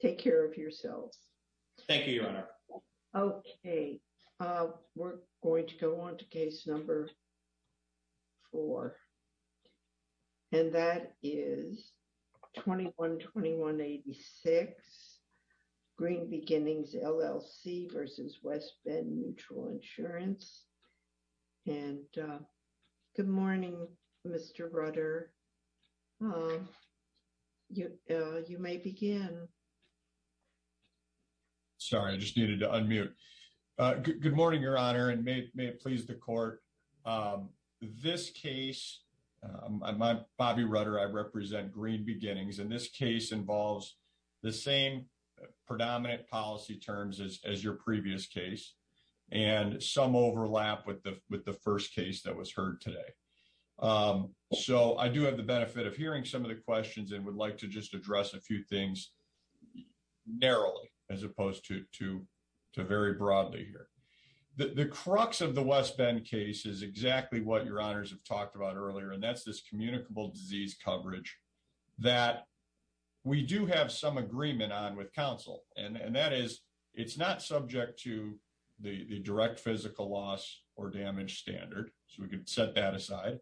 Take care of yourselves. Thank you, Your Honor. Okay, we're going to go on to case number four, and that is 21-21-86 Green Beginnings, LLC v. West Bend Mutual Insurance. And good morning, Mr. Rutter. You may begin. Sorry, I just needed to unmute. Good morning, Your Honor, and may it please the court. This case, I'm Bobby Rutter, I represent Green Beginnings, and this case involves the same predominant policy terms as your previous case, and some overlap with the first case that was heard today. So I do have the benefit of hearing some of the questions and would like to just address a few things narrowly as opposed to very broadly here. The crux of the West Bend case is exactly what Your Honors have talked about earlier, and that's this communicable disease coverage that we do have some agreement on with counsel, and that is it's not subject to the direct physical loss or damage standard, so we can set that aside.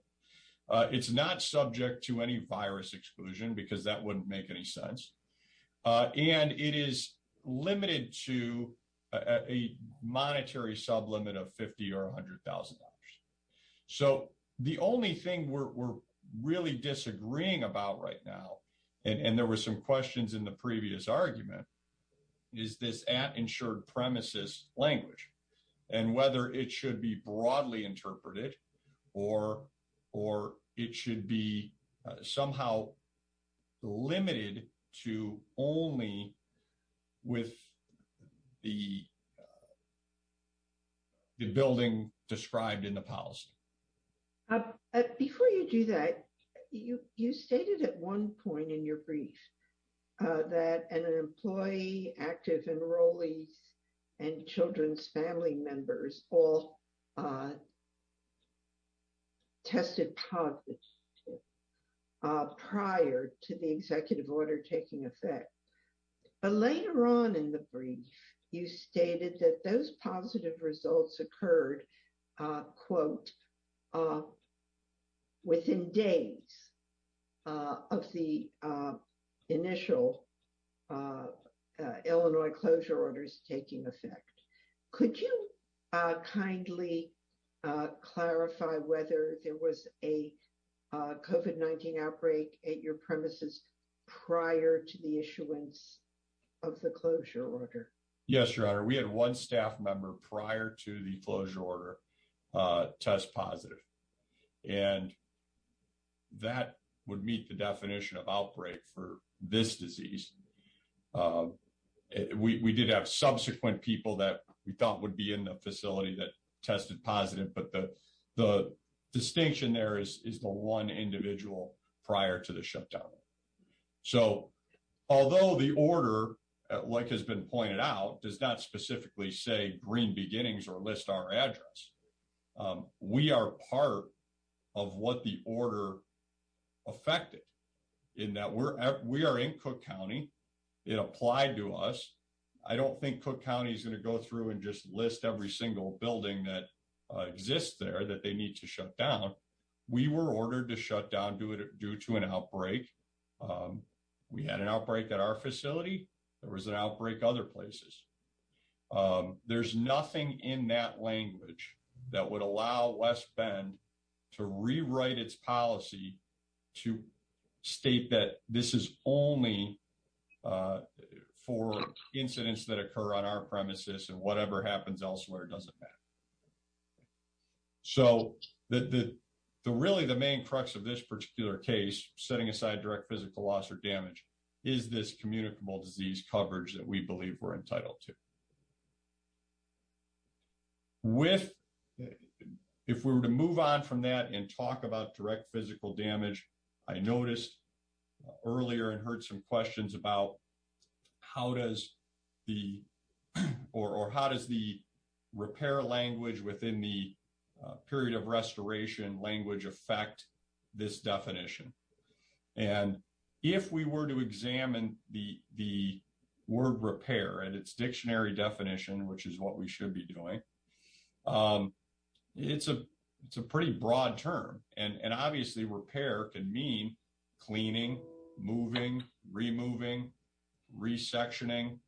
It's not subject to any virus exclusion because that wouldn't make any sense, and it is limited to a monetary sublimit of $50,000 or $100,000. So the only thing we're really disagreeing about right now, and there were some questions in the previous argument, is this at-insured premises language, and whether it should be broadly interpreted or it should be somehow limited to only with the building described in the policy. Before you do that, you stated at one point in your brief that an employee, active enrollees, and children's family members all tested positive prior to the executive order taking effect, but later on in the brief, you stated that those positive results occurred, quote, within days of the initial Illinois closure orders taking effect. Could you kindly clarify whether there was a COVID-19 outbreak at your premises prior to the issuance of the closure order? Yes, Your Honor. We had one staff member prior to the closure order test positive, and that would meet the definition of outbreak for this disease. We did have subsequent people that we thought would be in the facility that tested positive, but the distinction there is the one individual prior to the shutdown. So although the order, like has been pointed out, does not specifically say green beginnings or list our address, we are part of what the order affected, in that we are in Cook County. It applied to us. I don't think Cook County is going to go through and just list every single building that exists there that they need to order to shut down due to an outbreak. We had an outbreak at our facility. There was an outbreak other places. There's nothing in that language that would allow West Bend to rewrite its policy to state that this is only for incidents that occur on our premises and whatever happens elsewhere doesn't matter. So really the main crux of this particular case, setting aside direct physical loss or damage, is this communicable disease coverage that we believe we're entitled to. If we were to move on from that and talk about direct physical damage, I noticed earlier and repair language within the period of restoration language affect this definition. And if we were to examine the word repair and its dictionary definition, which is what we should be doing, it's a pretty broad term. And obviously repair can mean cleaning, moving, removing, resectioning,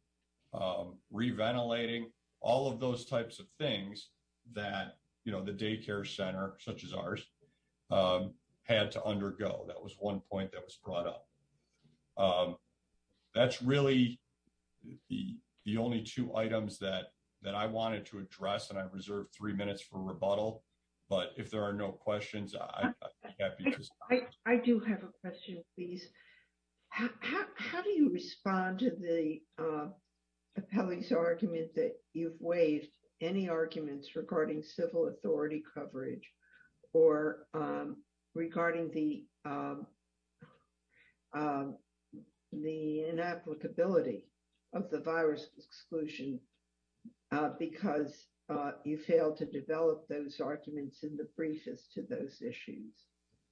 re-ventilating, all of those types of things that the daycare center, such as ours, had to undergo. That was one point that was brought up. That's really the only two items that I wanted to address and I reserved three minutes for rebuttal. But if there are no questions, I'd be happy to. I do have a question, please. How do you respond to the appellee's argument that you've waived any arguments regarding civil authority coverage or regarding the inapplicability of the virus exclusion because you failed to develop those issues?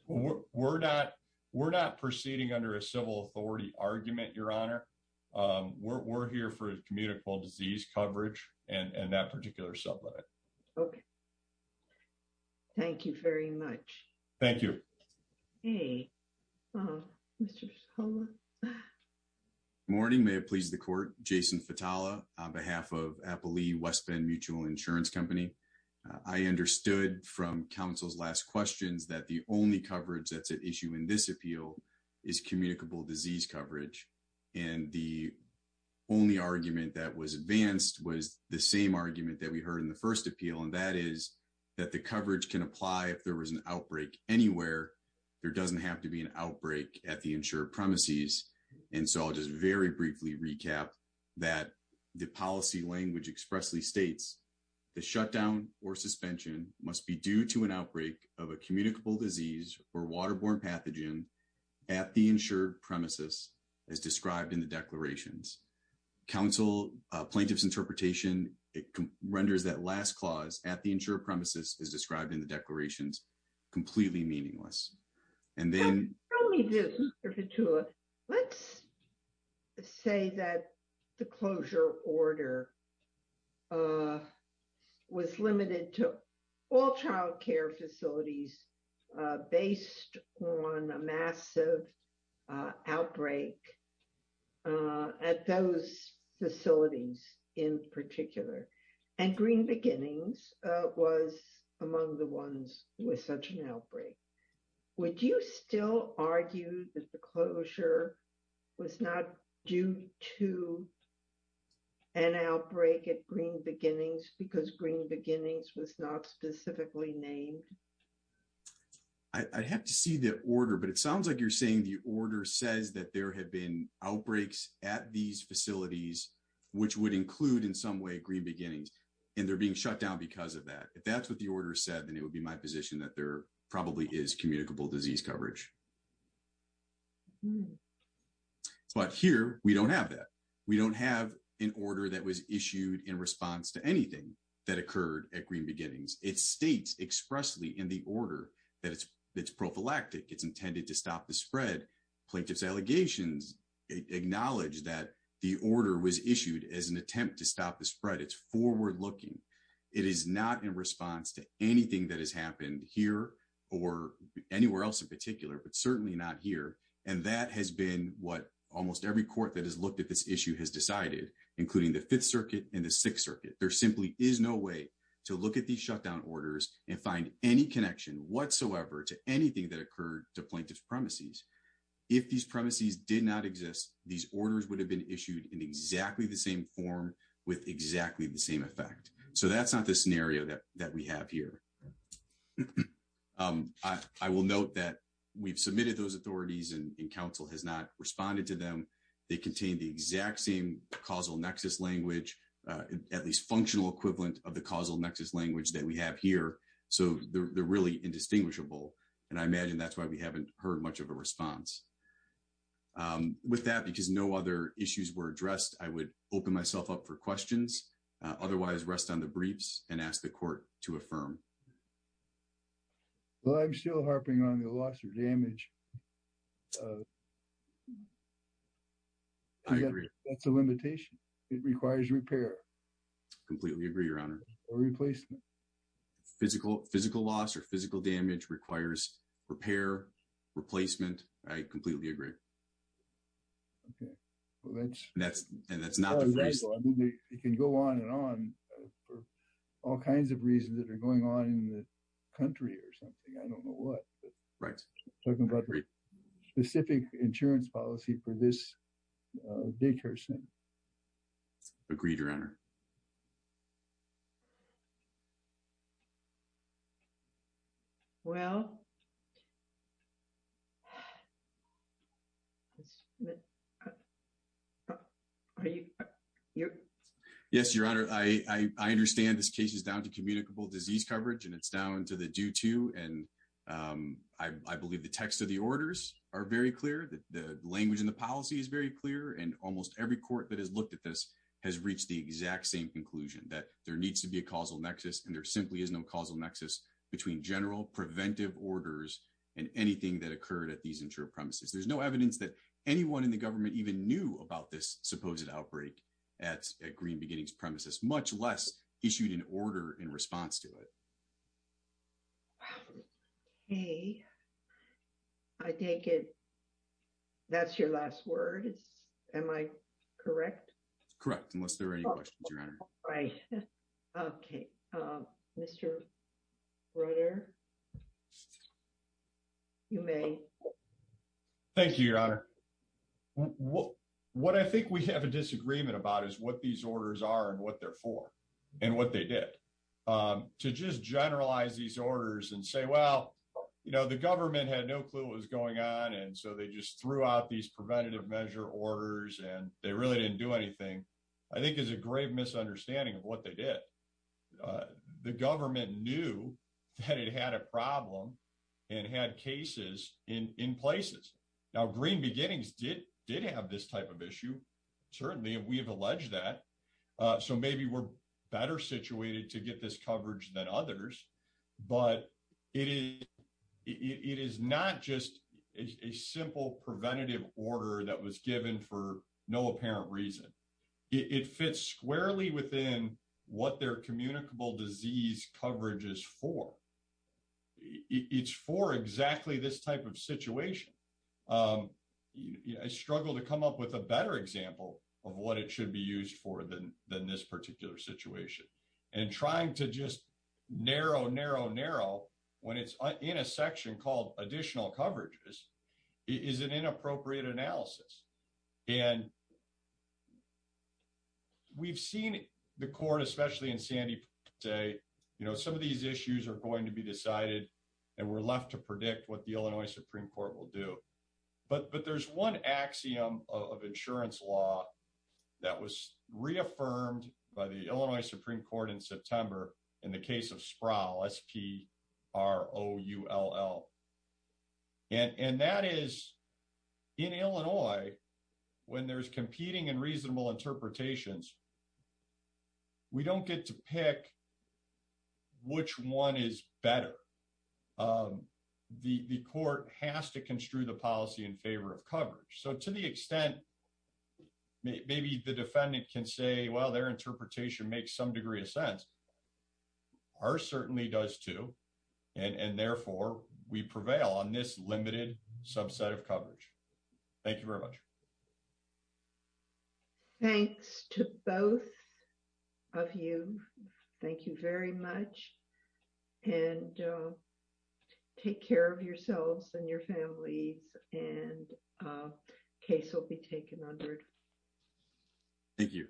We're not proceeding under a civil authority argument, Your Honor. We're here for communicable disease coverage and that particular sublet. Okay. Thank you very much. Thank you. Morning. May it please the court. Jason Fatala on behalf of Appellee West Bend Mutual Insurance Company. I understood from counsel's last questions that the only coverage that's at issue in this appeal is communicable disease coverage. And the only argument that was advanced was the same argument that we heard in the first appeal. And that is that the coverage can apply if there was an outbreak anywhere. There doesn't have to be an outbreak at the insured premises. And so I'll just very briefly recap that the policy language expressly states the shutdown or suspension must be due to an outbreak of a communicable disease or waterborne pathogen at the insured premises as described in the declarations. Counsel, plaintiff's interpretation, it renders that last clause at the insured premises as described in the declarations completely meaningless. And then- Let me do this, Mr. Fatula. Let's say that the closure order was limited to all childcare facilities based on a massive outbreak at those facilities in particular. And Green Beginnings was among the ones with such an outbreak. Would you still argue that the closure was not due to an outbreak at Green Beginnings because Green Beginnings was not specifically named? I'd have to see the order, but it sounds like you're saying the order says that there had been outbreaks at these facilities, which would include in some way Green Beginnings, and they're being shut down because of that. If that's what the order said, then it would be my position that there probably is communicable disease coverage. But here, we don't have that. We don't have an order that was issued in response to anything that occurred at Green Beginnings. It states expressly in the order that it's prophylactic. It's intended to stop the spread. Plaintiff's allegations acknowledge that the order was issued as an attempt to stop the spread. It's forward looking. It is not in response to anything that has happened here or anywhere else in particular, but certainly not here. And that has been what almost every court that has looked at this issue has decided, including the Fifth Circuit and the Sixth Circuit. There simply is no way to look at these shutdown orders and find any connection whatsoever to anything that occurred to plaintiff's premises. If these premises did not exist, these orders would have been issued in exactly the same form with exactly the same effect. So that's not the scenario that we have here. I will note that we've submitted those authorities and council has not responded to them. They contain the exact same causal nexus language, at least functional equivalent of the causal nexus language that we have here. So they're really indistinguishable. And I imagine that's why we haven't heard much of a response. With that, because no other issues were addressed, I would open myself up for questions. Otherwise, rest on the briefs and ask the court to affirm. Well, I'm still harping on the loss or damage. I agree. That's a limitation. It requires repair. Completely agree, Your Honor. Or replacement. Physical loss or physical damage requires repair, replacement. I completely agree. Okay. Well, that's... And that's not the reason... It can go on and on for all kinds of reasons that are going on in the country or something. I don't know what. Right. Talking about specific insurance policy for this daycare center. Agreed, Your Honor. Well, are you... Yes, Your Honor. I understand this case is down to communicable disease coverage, and it's down to the due to. And I believe the text of the orders are very clear. The language and the policy is very clear. And almost every court that has looked at this has reached the exact same conclusion that there needs to be a causal nexus, and there simply is no causal nexus between general preventive orders and anything that occurred at these insured premises. There's no evidence that anyone in the government even knew about this supposed outbreak at Green Beginnings premises, much less issued an order in response to it. Okay. I take it that's your last word. Am I correct? Correct, unless there are any questions, Your Honor. Right. Okay. Mr. Rutter, you may. Thank you, Your Honor. What I think we have a disagreement about is what these orders are and what they're for and what they did. To just generalize these orders and say, well, the government had no clue what was going on, and so they just threw out these preventative measure orders and they really didn't do anything, I think is a grave misunderstanding of what they did. The government knew that it had a problem and had cases in places. Now, Green Beginnings did have this type of issue. Certainly, we have alleged that. So maybe we're better situated to get this coverage than others. But it is not just a simple preventative order that was given for no apparent reason. It fits squarely within what their communicable disease coverage is for. It's for exactly this type of situation. I struggle to come up with a better example of what it should be used for than this particular situation. And trying to just narrow, narrow, narrow when it's in a section called additional coverages is an inappropriate analysis. And we've seen the court, especially in Sandy, say, you know, some of these issues are going to be decided and we're left to predict what the Illinois Supreme Court will do. But there's one axiom of insurance law that was reaffirmed by the Illinois Supreme Court in September in the case of Sproul, S-P-R-O-U-L-L. And that is, in Illinois, when there's competing and reasonable interpretations, we don't get to pick which one is better. The court has to construe the policy in favor of coverage. So to the extent maybe the defendant can say, well, their interpretation makes some degree of sense, ours certainly does too. And therefore, we prevail on this limited subset of coverage. Thank you very much. Thanks to both of you. Thank you very much. And take care of yourselves and your families and case will be taken under. Thank you.